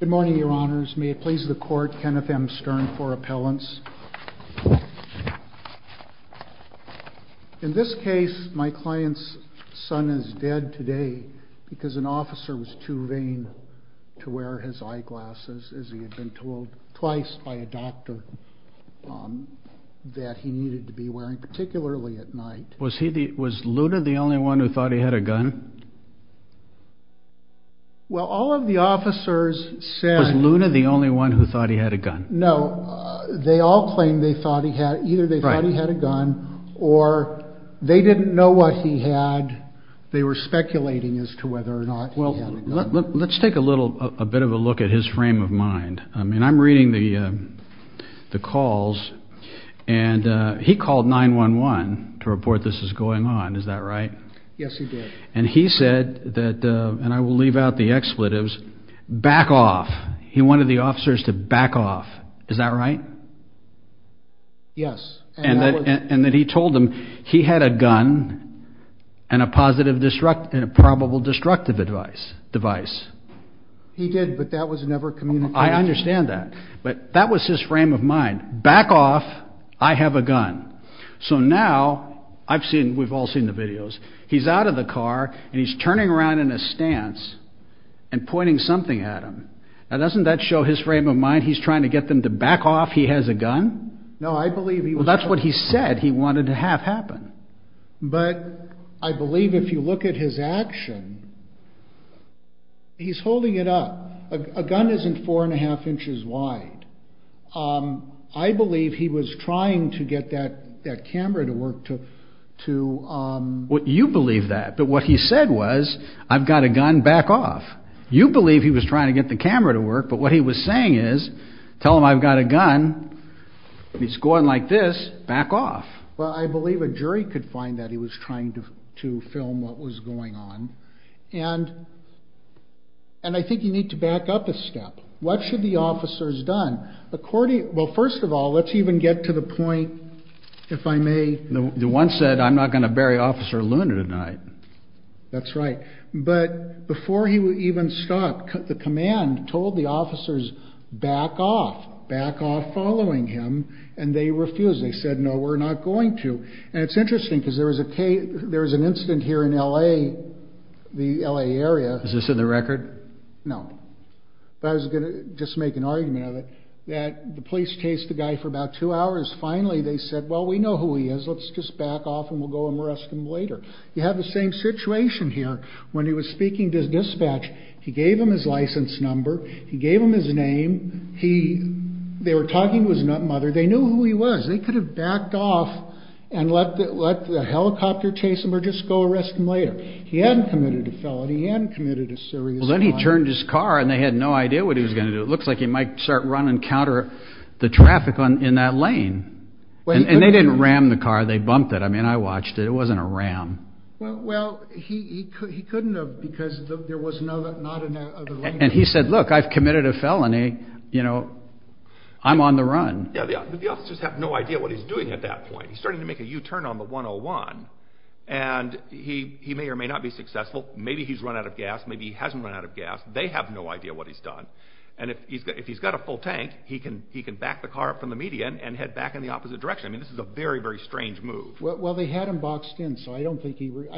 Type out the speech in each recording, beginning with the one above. Good morning, your honors. May it please the court, Kenneth M. Stern for appellants. In this case, my client's son is dead today because an officer was too vain to wear his eyeglasses, as he had been told twice by a doctor, that he needed to be wearing, particularly at night. Was he, was Luna the only one who thought he had a gun? Well, all of the officers said... Was Luna the only one who thought he had a gun? No, they all claimed they thought he had, either they thought he had a gun, or they didn't know what he had, they were speculating as to whether or not he had a gun. Let's take a little, a bit of a look at his frame of mind. I mean, I'm reading the calls, and he called 911 to report this is going on, is that right? Yes, he did. And he said that, and I will leave out the expletives, back off. He wanted the officers to back off, is that right? Yes. And that he told them he had a gun, and a positive, and a probable destructive device. He did, but that was never communicated. I understand that, but that was his frame of mind, back off, I have a gun. So now, I've seen, we've all seen the videos, he's out of the car, and he's turning around in a stance, and pointing something at him. Now doesn't that show his frame of mind, he's trying to get them to back off, he has a gun? No, I believe he was... Well, that's what he said, he wanted to have happen. But, I believe if you look at his action, he's holding it up, a gun isn't four and a half inches wide. I believe he was trying to get that camera to work to... Well, you believe that, but what he said was, I've got a gun, back off. You believe he was trying to get the camera to work, but what he was saying is, tell them I've got a gun, it's going like this, back off. Well, I believe a jury could find that he was trying to film what was going on, and I think you need to back up a step. What should the officers done? Well, first of all, let's even get to the point, if I may... The one said, I'm not going to bury Officer Luna tonight. That's right, but before he would even stop, the command told the officers, back off, back off following him, and they refused, they said, no, we're not going to. And it's interesting, because there was an incident here in LA, the LA area... Is this in the record? No, but I was going to just make an argument of it, that the police chased the guy for about two hours, finally they said, well, we know who he is, let's just back off and we'll go and arrest him later. You have the same situation here, when he was speaking to dispatch, he gave them his license number, he gave them his name, they were talking to his mother, they knew who he was, they could have backed off and let the helicopter chase him or just go arrest him later. He hadn't committed a felony, he hadn't committed a serious crime. Well, then he turned his car and they had no idea what he was going to do, it looks like he might start running counter the traffic in that lane. And they didn't ram the car, they bumped it, I mean, I watched it, it wasn't a ram. Well, he couldn't have, because there was not another lane... And he said, look, I've committed a felony, you know, I'm on the run. Yeah, the officers have no idea what he's doing at that point, he's starting to make a U-turn on the 101, and he may or may not be successful, maybe he's run out of gas, maybe he hasn't run out of gas, they have no idea what he's done. And if he's got a full tank, he can back the car up from the median and head back in the opposite direction, I mean, this is a very, very strange move. Well, they had him boxed in, so I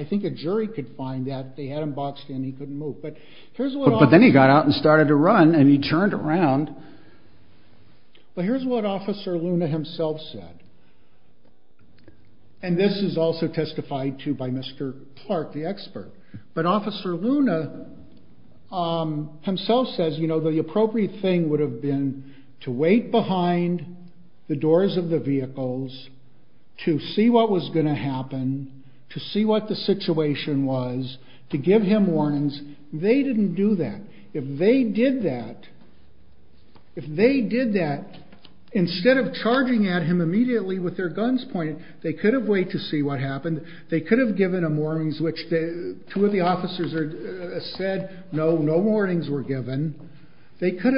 think a jury could find that, they had him boxed in, he couldn't move. But then he got out and started to run, and he turned around. Well, here's what Officer Luna himself said, and this is also testified to by Mr. Clark, the expert. But Officer Luna himself says, you know, the appropriate thing would have been to wait behind the doors of the vehicles to see what was going to happen, to see what the situation was, to give him warnings. They didn't do that. If they did that, if they did that, instead of charging at him immediately with their guns pointed, they could have waited to see what happened, they could have given him warnings, which two of the officers said no, no warnings were given. They could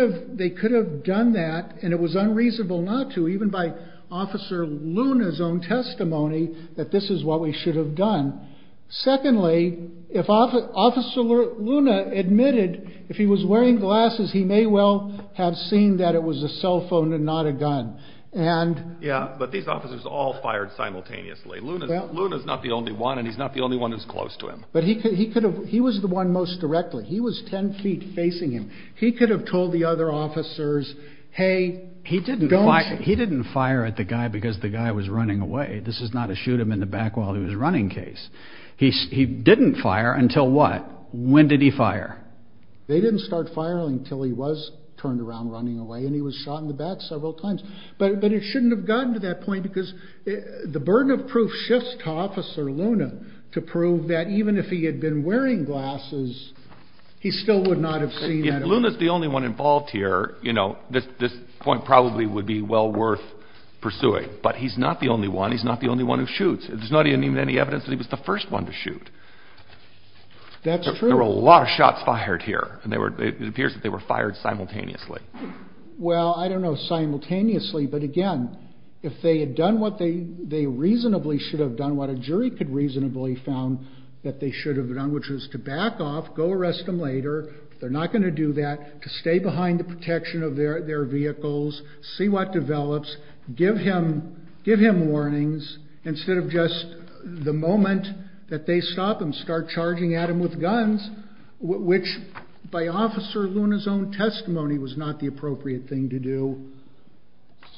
have done that, and it was unreasonable not to, even by Officer Luna's own testimony that this is what we should have done. Secondly, if Officer Luna admitted, if he was wearing glasses, he may well have seen that it was a cell phone and not a gun. Yeah, but these officers all fired simultaneously. Luna's not the only one, and he's not the only one that's close to him. He was the one most directly. He was 10 feet facing him. He could have told the other officers, hey, don't shoot. He didn't fire at the guy because the guy was running away. This is not a shoot him in the back while he was running case. He didn't fire until what? When did he fire? They didn't start firing until he was turned around running away, and he was shot in the back several times. But it shouldn't have gotten to that point because the burden of proof shifts to Officer Luna to prove that even if he had been wearing glasses, he still would not have seen that. If Luna's the only one involved here, you know, this point probably would be well worth pursuing. But he's not the only one. He's not the only one who shoots. There's not even any evidence that he was the first one to shoot. That's true. There were a lot of shots fired here, and it appears that they were fired simultaneously. Well, I don't know, simultaneously. But, again, if they had done what they reasonably should have done, what a jury could reasonably found that they should have done, which was to back off, go arrest him later. They're not going to do that, to stay behind the protection of their vehicles, see what develops, give him warnings instead of just the moment that they stop him, start charging at him with guns, which, by Officer Luna's own testimony, was not the appropriate thing to do.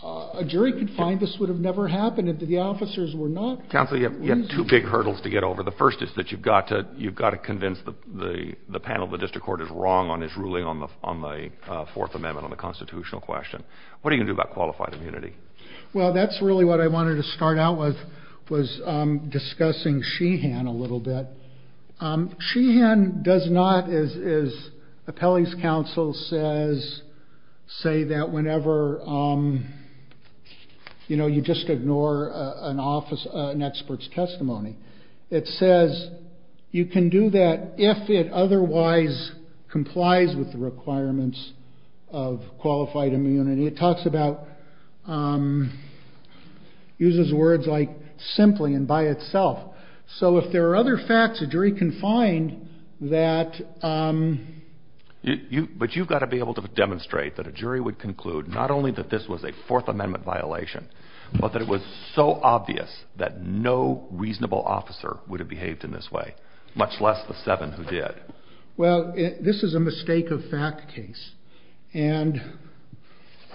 A jury could find this would have never happened if the officers were not reasonable. Counsel, you have two big hurdles to get over. The first is that you've got to convince the panel the district court is wrong on its ruling on the Fourth Amendment on the constitutional question. What are you going to do about qualified immunity? Well, that's really what I wanted to start out with, was discussing Sheehan a little bit. Sheehan does not, as appellee's counsel says, say that whenever you just ignore an expert's testimony. It says you can do that if it otherwise complies with the requirements of qualified immunity. It talks about, uses words like simply and by itself. So if there are other facts a jury can find that... But you've got to be able to demonstrate that a jury would conclude not only that this was a Fourth Amendment violation, but that it was so obvious that no reasonable officer would have behaved in this way, much less the seven who did. Well, this is a mistake of fact case. And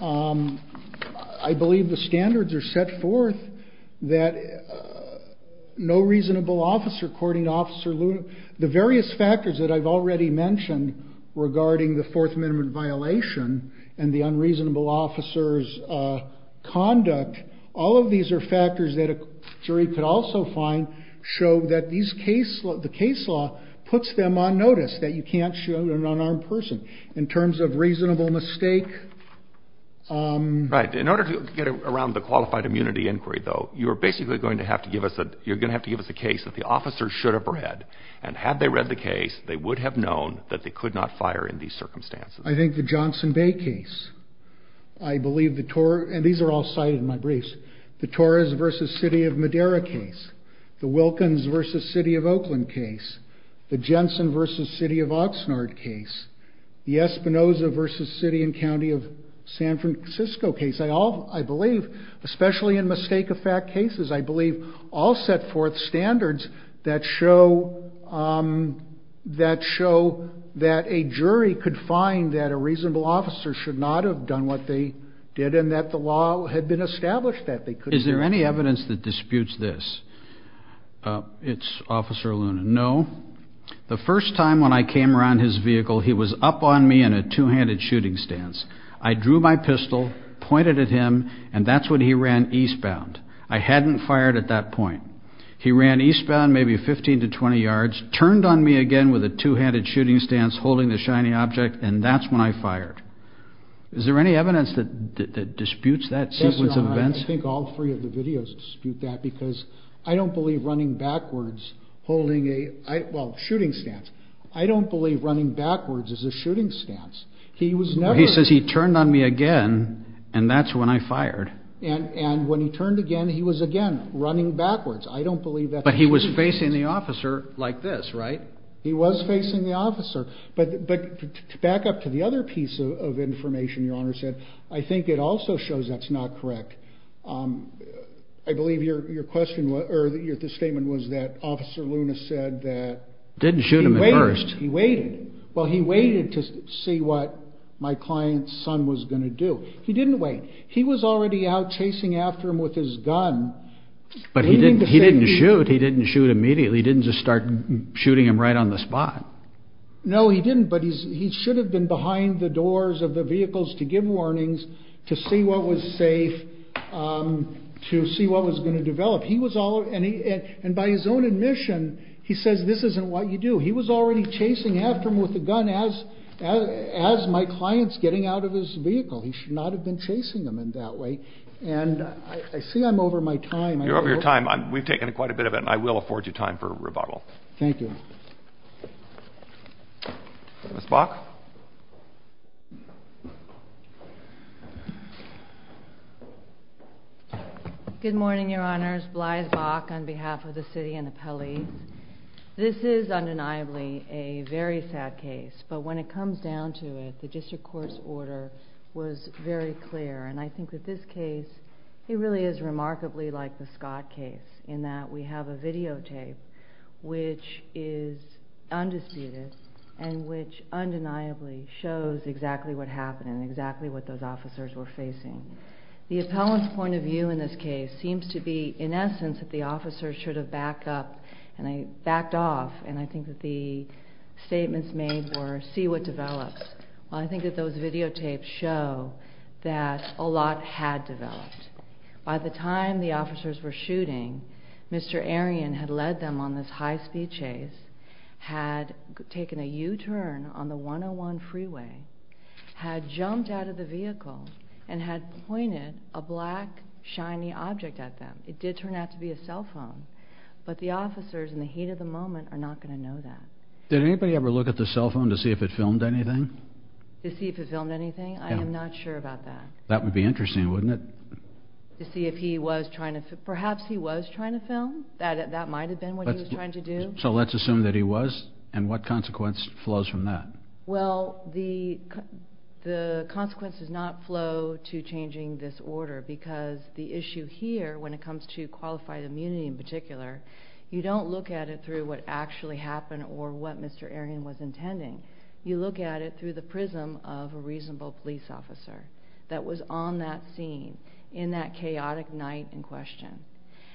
I believe the standards are set forth that no reasonable officer courting Officer Luna. The various factors that I've already mentioned regarding the Fourth Amendment violation and the unreasonable officer's conduct, all of these are factors that a jury could also find show that the case law puts them on notice that you can't shoot an unarmed person in terms of reasonable mistake. Right. In order to get around the qualified immunity inquiry, though, you're basically going to have to give us a case that the officers should have read. And had they read the case, they would have known that they could not fire in these circumstances. I think the Johnson Bay case. I believe the Torres... And these are all cited in my briefs. The Torres v. City of Madera case. The Wilkins v. City of Oakland case. The Jensen v. City of Oxnard case. The Espinoza v. City and County of San Francisco case. I believe, especially in mistake of fact cases, I believe all set forth standards that show that a jury could find that a reasonable officer should not have done what they did and that the law had been established that they couldn't. Is there any evidence that disputes this? It's Officer Luna. No. The first time when I came around his vehicle, he was up on me in a two-handed shooting stance. I drew my pistol, pointed at him, and that's when he ran eastbound. I hadn't fired at that point. He ran eastbound maybe 15 to 20 yards, turned on me again with a two-handed shooting stance holding the shiny object, and that's when I fired. Is there any evidence that disputes that sequence of events? I think all three of the videos dispute that because I don't believe running backwards holding a... Well, shooting stance. I don't believe running backwards is a shooting stance. He was never... He says he turned on me again, and that's when I fired. And when he turned again, he was again running backwards. I don't believe that... But he was facing the officer like this, right? He was facing the officer. But back up to the other piece of information your Honor said, I think it also shows that's not correct. I believe your question or your statement was that Officer Luna said that... Didn't shoot him at first. He waited. Well, he waited to see what my client's son was going to do. He didn't wait. He was already out chasing after him with his gun. But he didn't shoot. He didn't shoot immediately. He didn't just start shooting him right on the spot. No, he didn't, but he should have been behind the doors of the vehicles to give warnings, to see what was safe, to see what was going to develop. He was all... And by his own admission, he says this isn't what you do. He was already chasing after him with the gun as my client's getting out of his vehicle. He should not have been chasing him in that way. And I see I'm over my time. You're over your time. We've taken quite a bit of it, and I will afford you time for rebuttal. Thank you. Ms. Bach? Good morning, your Honors. Blythe Bach on behalf of the city and the police. This is undeniably a very sad case, but when it comes down to it, the district court's order was very clear. And I think that this case, it really is remarkably like the Scott case in that we have a videotape which is undisputed and which undeniably shows exactly what happened and exactly what those officers were facing. The appellant's point of view in this case seems to be, in essence, that the officers should have backed off. And I think that the statements made were, see what develops. Well, I think that those videotapes show that a lot had developed. By the time the officers were shooting, Mr. Arion had led them on this high-speed chase, had taken a U-turn on the 101 freeway, had jumped out of the vehicle, and had pointed a black, shiny object at them. It did turn out to be a cell phone. But the officers, in the heat of the moment, are not going to know that. Did anybody ever look at the cell phone to see if it filmed anything? To see if it filmed anything? I am not sure about that. That would be interesting, wouldn't it? To see if he was trying to film. Perhaps he was trying to film. That might have been what he was trying to do. So let's assume that he was, and what consequence flows from that? Well, the consequence does not flow to changing this order, because the issue here, when it comes to qualified immunity in particular, you don't look at it through what actually happened or what Mr. Arion was intending. You look at it through the prism of a reasonable police officer that was on that scene, in that chaotic night in question.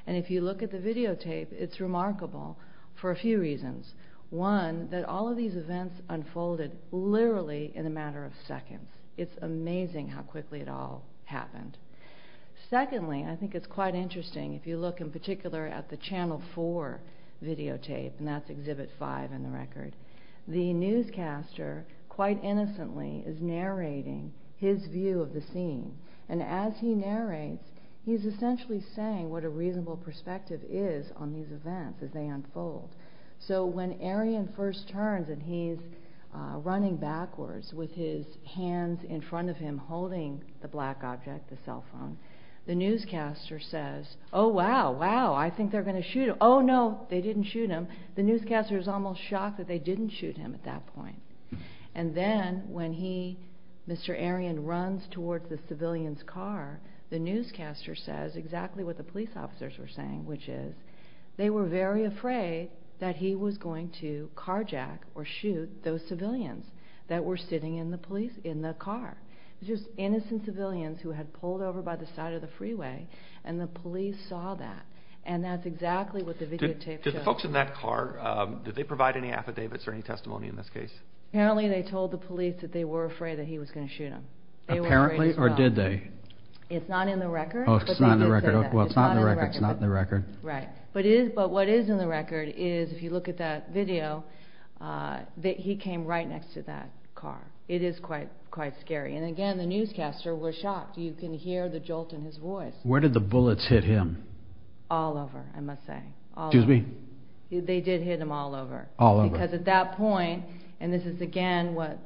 And if you look at the videotape, it's remarkable for a few reasons. One, that all of these events unfolded literally in a matter of seconds. It's amazing how quickly it all happened. Secondly, I think it's quite interesting, if you look in particular at the Channel 4 videotape, and that's Exhibit 5 in the record, the newscaster, quite innocently, is narrating his view of the scene. And as he narrates, he's essentially saying what a reasonable perspective is on these events as they unfold. So when Arion first turns, and he's running backwards with his hands in front of him, holding the black object, the cell phone, the newscaster says, Oh wow, wow, I think they're going to shoot him. Oh no, they didn't shoot him. The newscaster is almost shocked that they didn't shoot him at that point. And then, when he, Mr. Arion, runs towards the civilian's car, the newscaster says exactly what the police officers were saying, which is, they were very afraid that he was going to carjack or shoot those civilians that were sitting in the car. Just innocent civilians who had pulled over by the side of the freeway, and the police saw that. And that's exactly what the videotape shows. Did the folks in that car, did they provide any affidavits or any testimony in this case? Apparently they told the police that they were afraid that he was going to shoot them. It's not in the record, but they did say that. It's not in the record. Right. But what is in the record is, if you look at that video, that he came right next to that car. It is quite scary. And again, the newscaster was shocked. You can hear the jolt in his voice. Where did the bullets hit him? All over, I must say. Excuse me? They did hit him all over. All over. Because at that point, and this is again what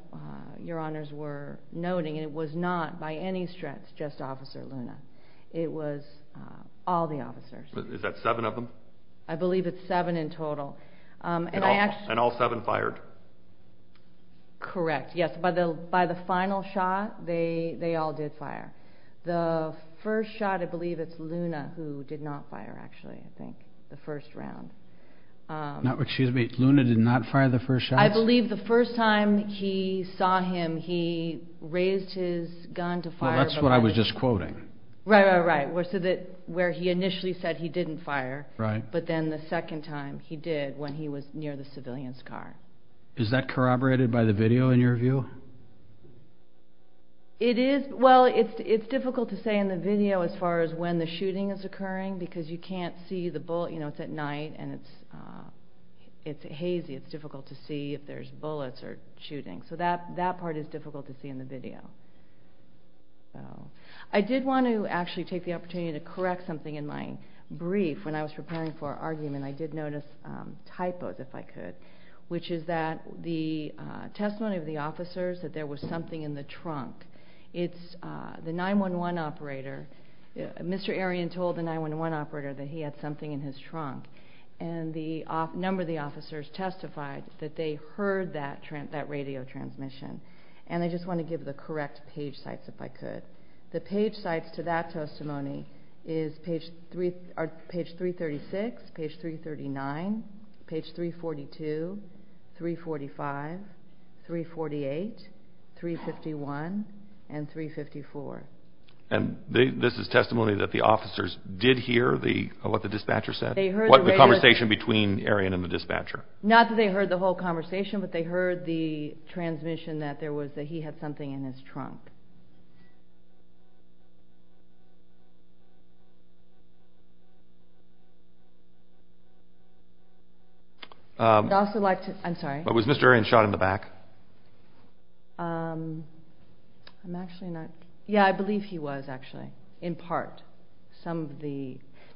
your honors were noting, it was not by any stretch just Officer Luna. It was all the officers. Is that seven of them? I believe it's seven in total. And all seven fired? Correct. Yes, by the final shot, they all did fire. The first shot, I believe it's Luna who did not fire, actually, I think, the first round. Excuse me, Luna did not fire the first shot? I believe the first time he saw him, he raised his gun to fire. That's what I was just quoting. Right, right, right, where he initially said he didn't fire, but then the second time he did when he was near the civilian's car. Is that corroborated by the video in your view? It is. Well, it's difficult to say in the video as far as when the shooting is occurring because you can't see the bullet. It's at night and it's hazy. It's difficult to see if there's bullets or shooting. So that part is difficult to see in the video. I did want to actually take the opportunity to correct something in my brief when I was preparing for our argument. I did notice typos, if I could, which is that the testimony of the officers that there was something in the trunk. It's the 911 operator. Mr. Arion told the 911 operator that he had something in his trunk, and a number of the officers testified that they heard that radio transmission. And I just want to give the correct page sites, if I could. The page sites to that testimony are page 336, page 339, page 342, 345, 348, 351, and 354. And this is testimony that the officers did hear what the dispatcher said? The conversation between Arion and the dispatcher. Not that they heard the whole conversation, but they heard the transmission that he had something in his trunk. Was Mr. Arion shot in the back? Yeah, I believe he was, actually, in part.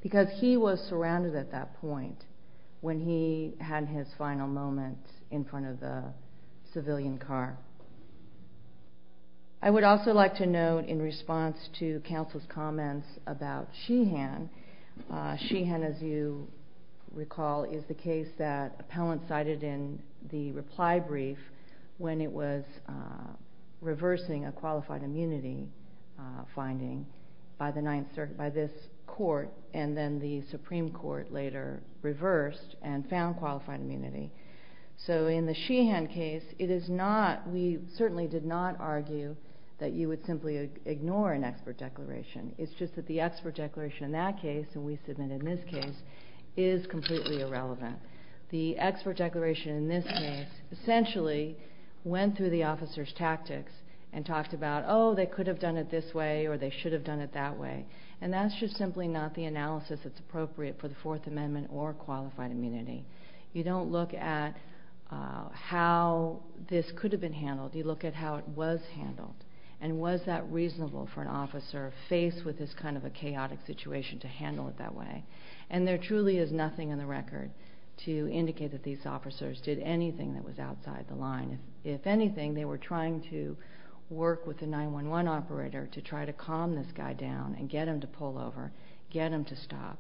Because he was surrounded at that point when he had his final moment in front of the civilian car. I would also like to note, in response to counsel's comments about Sheehan, Sheehan, as you recall, is the case that appellants cited in the reply brief when it was reversing a qualified immunity finding by this court, and then the Supreme Court later reversed and found qualified immunity. So in the Sheehan case, we certainly did not argue that you would simply ignore an expert declaration. It's just that the expert declaration in that case, and we submitted in this case, is completely irrelevant. The expert declaration in this case essentially went through the officer's tactics and talked about, oh, they could have done it this way, or they should have done it that way. And that's just simply not the analysis that's appropriate for the Fourth Amendment or qualified immunity. You don't look at how this could have been handled. You look at how it was handled, and was that reasonable for an officer faced with this kind of a chaotic situation to handle it that way. And there truly is nothing in the record to indicate that these officers did anything that was outside the line. If anything, they were trying to work with the 911 operator to try to calm this guy down and get him to pull over, get him to stop.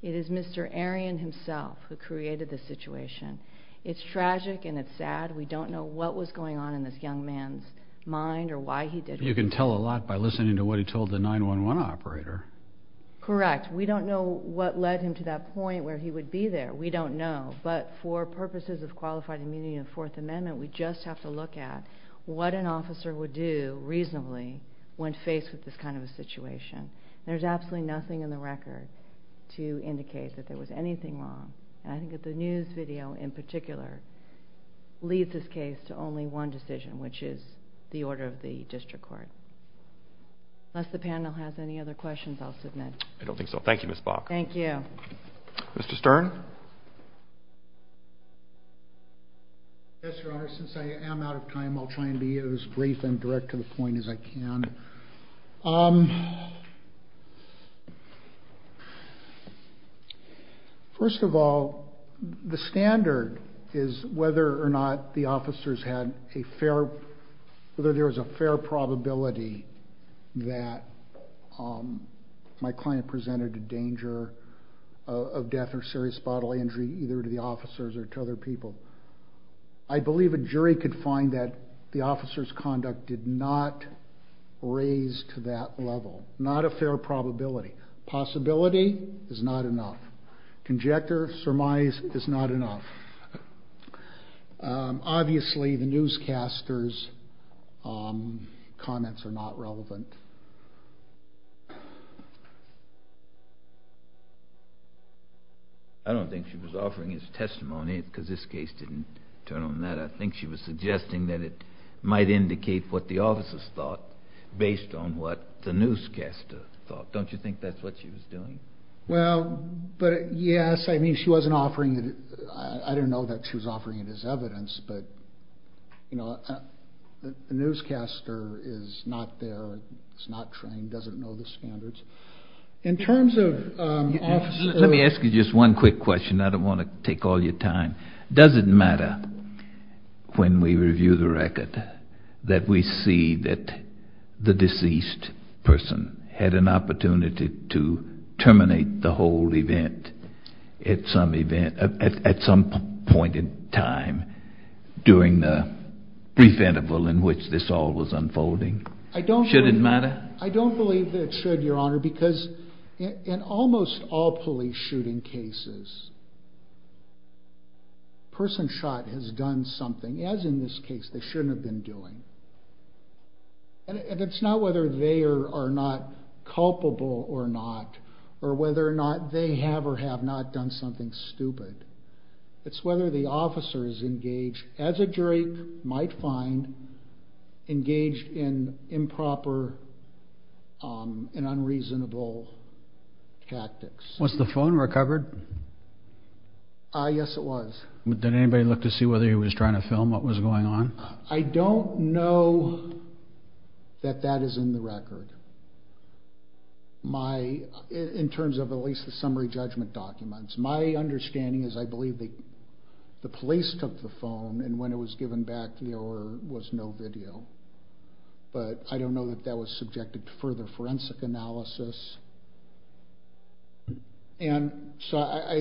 It is Mr. Arion himself who created this situation. It's tragic and it's sad. We don't know what was going on in this young man's mind or why he did it. You can tell a lot by listening to what he told the 911 operator. Correct. We don't know what led him to that point where he would be there. We don't know. But for purposes of qualified immunity in the Fourth Amendment, we just have to look at what an officer would do reasonably when faced with this kind of a situation. There's absolutely nothing in the record to indicate that there was anything wrong. I think that the news video in particular leads this case to only one decision, which is the order of the district court. Unless the panel has any other questions, I'll submit. I don't think so. Thank you, Ms. Bach. Thank you. Mr. Stern? Yes, Your Honor. Since I am out of time, I'll try and be as brief and direct to the point as I can. First of all, the standard is whether or not the officers had a fair, whether there was a fair probability that my client presented a danger of death or serious bodily injury either to the officers or to other people. I believe a jury could find that the officer's conduct did not raise to that level. Not a fair probability. Possibility is not enough. Conjecture, surmise is not enough. Obviously, the newscaster's comments are not relevant. I don't think she was offering his testimony because this case didn't turn on that. I think she was suggesting that it might indicate what the officers thought based on what the newscaster thought. Don't you think that's what she was doing? Well, but yes. I mean, she wasn't offering it. I don't know that she was offering it as evidence, but the newscaster is not there. She's not trained, doesn't know the standards. In terms of officers. Let me ask you just one quick question. I don't want to take all your time. Does it matter when we review the record that we see that the deceased person had an opportunity to terminate the whole event at some point in time during the brief interval in which this all was unfolding? Should it matter? I don't believe that it should, Your Honor, because in almost all police shooting cases, a person shot has done something. As in this case, they shouldn't have been doing. And it's not whether they are not culpable or not or whether or not they have or have not done something stupid. It's whether the officers engaged, as a jury might find, engaged in improper and unreasonable tactics. Was the phone recovered? Yes, it was. Did anybody look to see whether he was trying to film what was going on? I don't know that that is in the record, in terms of at least the summary judgment documents. My understanding is I believe the police took the phone and when it was given back there was no video. But I don't know that that was subjected to further forensic analysis. There's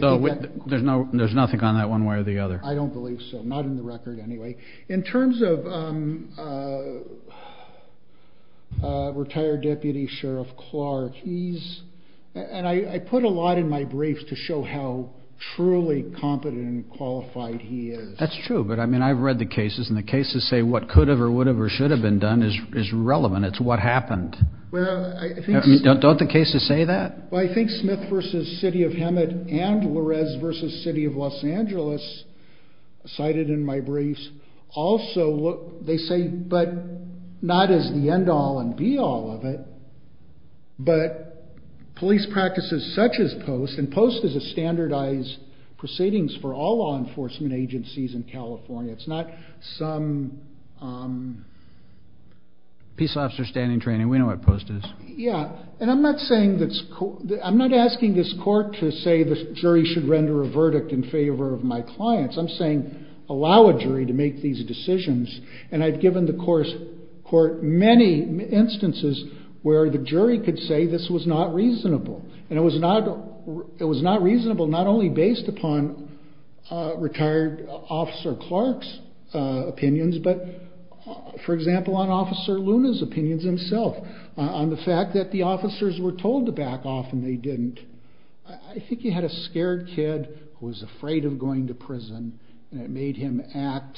nothing on that one way or the other. I don't believe so. Not in the record anyway. In terms of retired Deputy Sheriff Clark, I put a lot in my briefs to show how truly competent and qualified he is. That's true. But I've read the cases and the cases say what could have or would have or should have been done is relevant. It's what happened. Don't the cases say that? Well, I think Smith v. City of Hemet and Lorez v. City of Los Angeles, cited in my briefs, also they say, but not as the end all and be all of it, but police practices such as POST, and POST is a standardized proceedings for all law enforcement agencies in California. It's not some... Peace officer standing training. We know what POST is. Yeah. And I'm not asking this court to say the jury should render a verdict in favor of my clients. I'm saying allow a jury to make these decisions. And I've given the court many instances where the jury could say this was not reasonable and it was not reasonable not only based upon retired Officer Clark's opinions, but, for example, on Officer Luna's opinions himself, on the fact that the officers were told to back off and they didn't. I think you had a scared kid who was afraid of going to prison and it made him act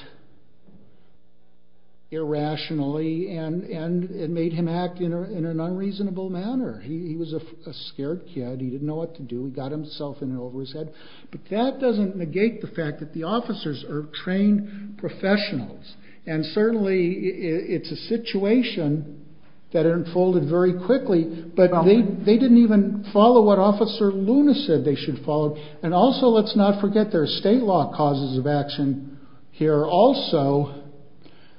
irrationally and it made him act in an unreasonable manner. He was a scared kid. He didn't know what to do. He got himself in over his head. But that doesn't negate the fact that the officers are trained professionals and certainly it's a situation that unfolded very quickly, but they didn't even follow what Officer Luna said they should follow. And also let's not forget there are state law causes of action here also.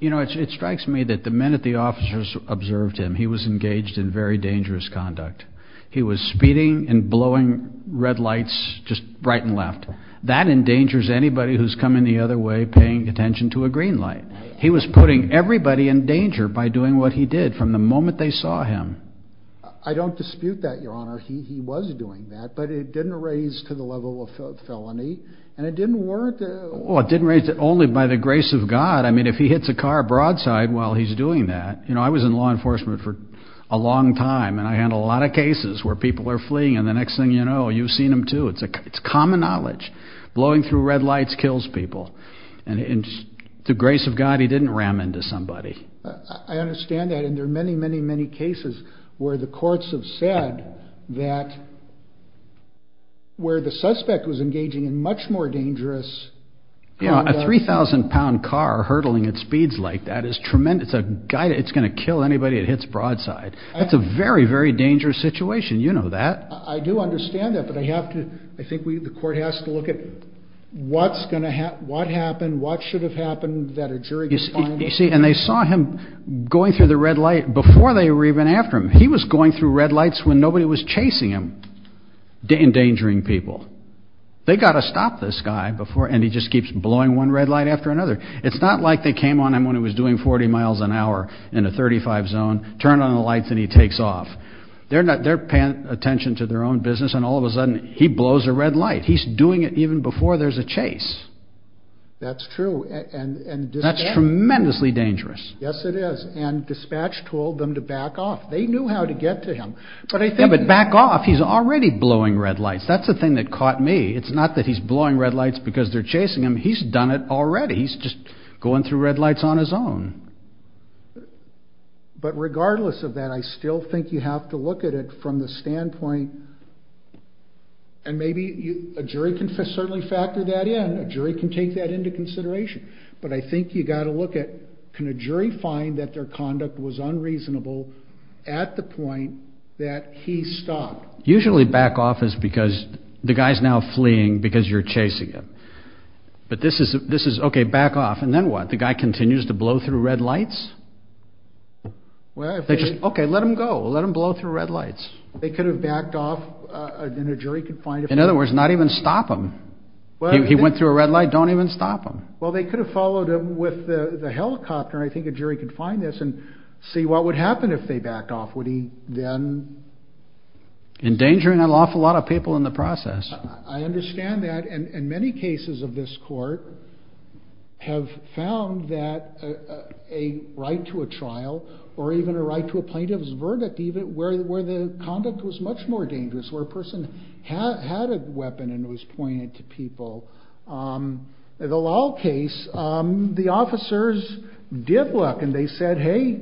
You know, it strikes me that the minute the officers observed him, he was engaged in very dangerous conduct. He was speeding and blowing red lights just right and left. That endangers anybody who's coming the other way paying attention to a green light. He was putting everybody in danger by doing what he did from the moment they saw him. I don't dispute that, Your Honor. He was doing that, but it didn't raise to the level of felony. And it didn't warrant it. Well, it didn't raise it only by the grace of God. I mean, if he hits a car broadside while he's doing that. You know, I was in law enforcement for a long time, and I handle a lot of cases where people are fleeing, and the next thing you know, you've seen them too. It's common knowledge. Blowing through red lights kills people. And to the grace of God, he didn't ram into somebody. I understand that, and there are many, many, many cases where the courts have said that where the suspect was engaging in much more dangerous conduct. You know, a 3,000-pound car hurtling at speeds like that is tremendous. It's going to kill anybody it hits broadside. That's a very, very dangerous situation. You know that. I do understand that, but I think the court has to look at what happened, what should have happened that a jury can find. You see, and they saw him going through the red light before they were even after him. He was going through red lights when nobody was chasing him, endangering people. They've got to stop this guy, and he just keeps blowing one red light after another. It's not like they came on him when he was doing 40 miles an hour in a 35 zone, turned on the lights, and he takes off. They're paying attention to their own business, and all of a sudden, he blows a red light. He's doing it even before there's a chase. That's true. That's tremendously dangerous. Yes, it is. And dispatch told them to back off. They knew how to get to him. Yeah, but back off. He's already blowing red lights. That's the thing that caught me. It's not that he's blowing red lights because they're chasing him. He's done it already. He's just going through red lights on his own. But regardless of that, I still think you have to look at it from the standpoint, and maybe a jury can certainly factor that in. A jury can take that into consideration. But I think you've got to look at can a jury find that their conduct was unreasonable at the point that he stopped. Usually back off is because the guy's now fleeing because you're chasing him. But this is, okay, back off. And then what? The guy continues to blow through red lights? Okay, let him go. Let him blow through red lights. They could have backed off, and a jury could find him. In other words, not even stop him. He went through a red light. Don't even stop him. Well, they could have followed him with the helicopter, and I think a jury could find this and see what would happen if they backed off. Endangering an awful lot of people in the process. I understand that, and many cases of this court have found that a right to a trial or even a right to a plaintiff's verdict, where the conduct was much more dangerous, where a person had a weapon and it was pointed to people. The Lal case, the officers did look, and they said, Hey,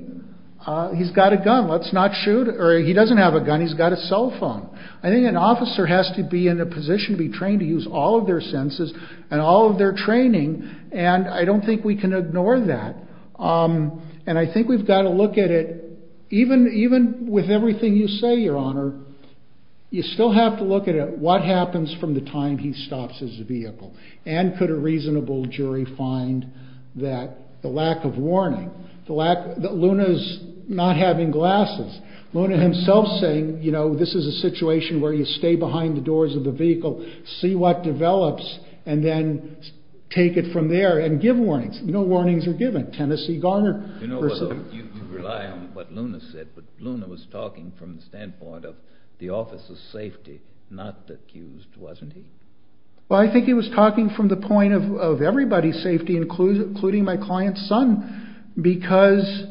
he's got a gun, let's not shoot. Or he doesn't have a gun, he's got a cell phone. I think an officer has to be in a position to be trained to use all of their senses and all of their training, and I don't think we can ignore that. And I think we've got to look at it, even with everything you say, Your Honor, you still have to look at what happens from the time he stops his vehicle, and could a reasonable jury find that the lack of warning, that Luna's not having glasses. Luna himself saying, you know, this is a situation where you stay behind the doors of the vehicle, see what develops, and then take it from there and give warnings. No warnings are given. Tennessee Garner. You know, you rely on what Luna said, but Luna was talking from the standpoint of the officer's safety, not the accused, wasn't he? Well, I think he was talking from the point of everybody's safety, including my client's son, because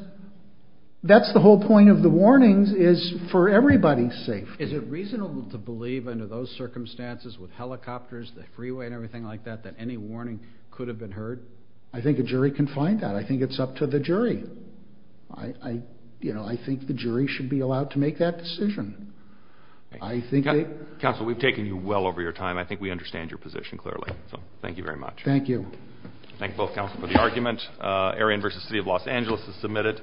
that's the whole point of the warnings, is for everybody's safety. Is it reasonable to believe under those circumstances with helicopters, the freeway and everything like that, that any warning could have been heard? I think a jury can find that. I think it's up to the jury. I think the jury should be allowed to make that decision. Counsel, we've taken you well over your time. I think we understand your position clearly, so thank you very much. Thank you. Thank both counsel for the argument. Arion v. City of Los Angeles is submitted.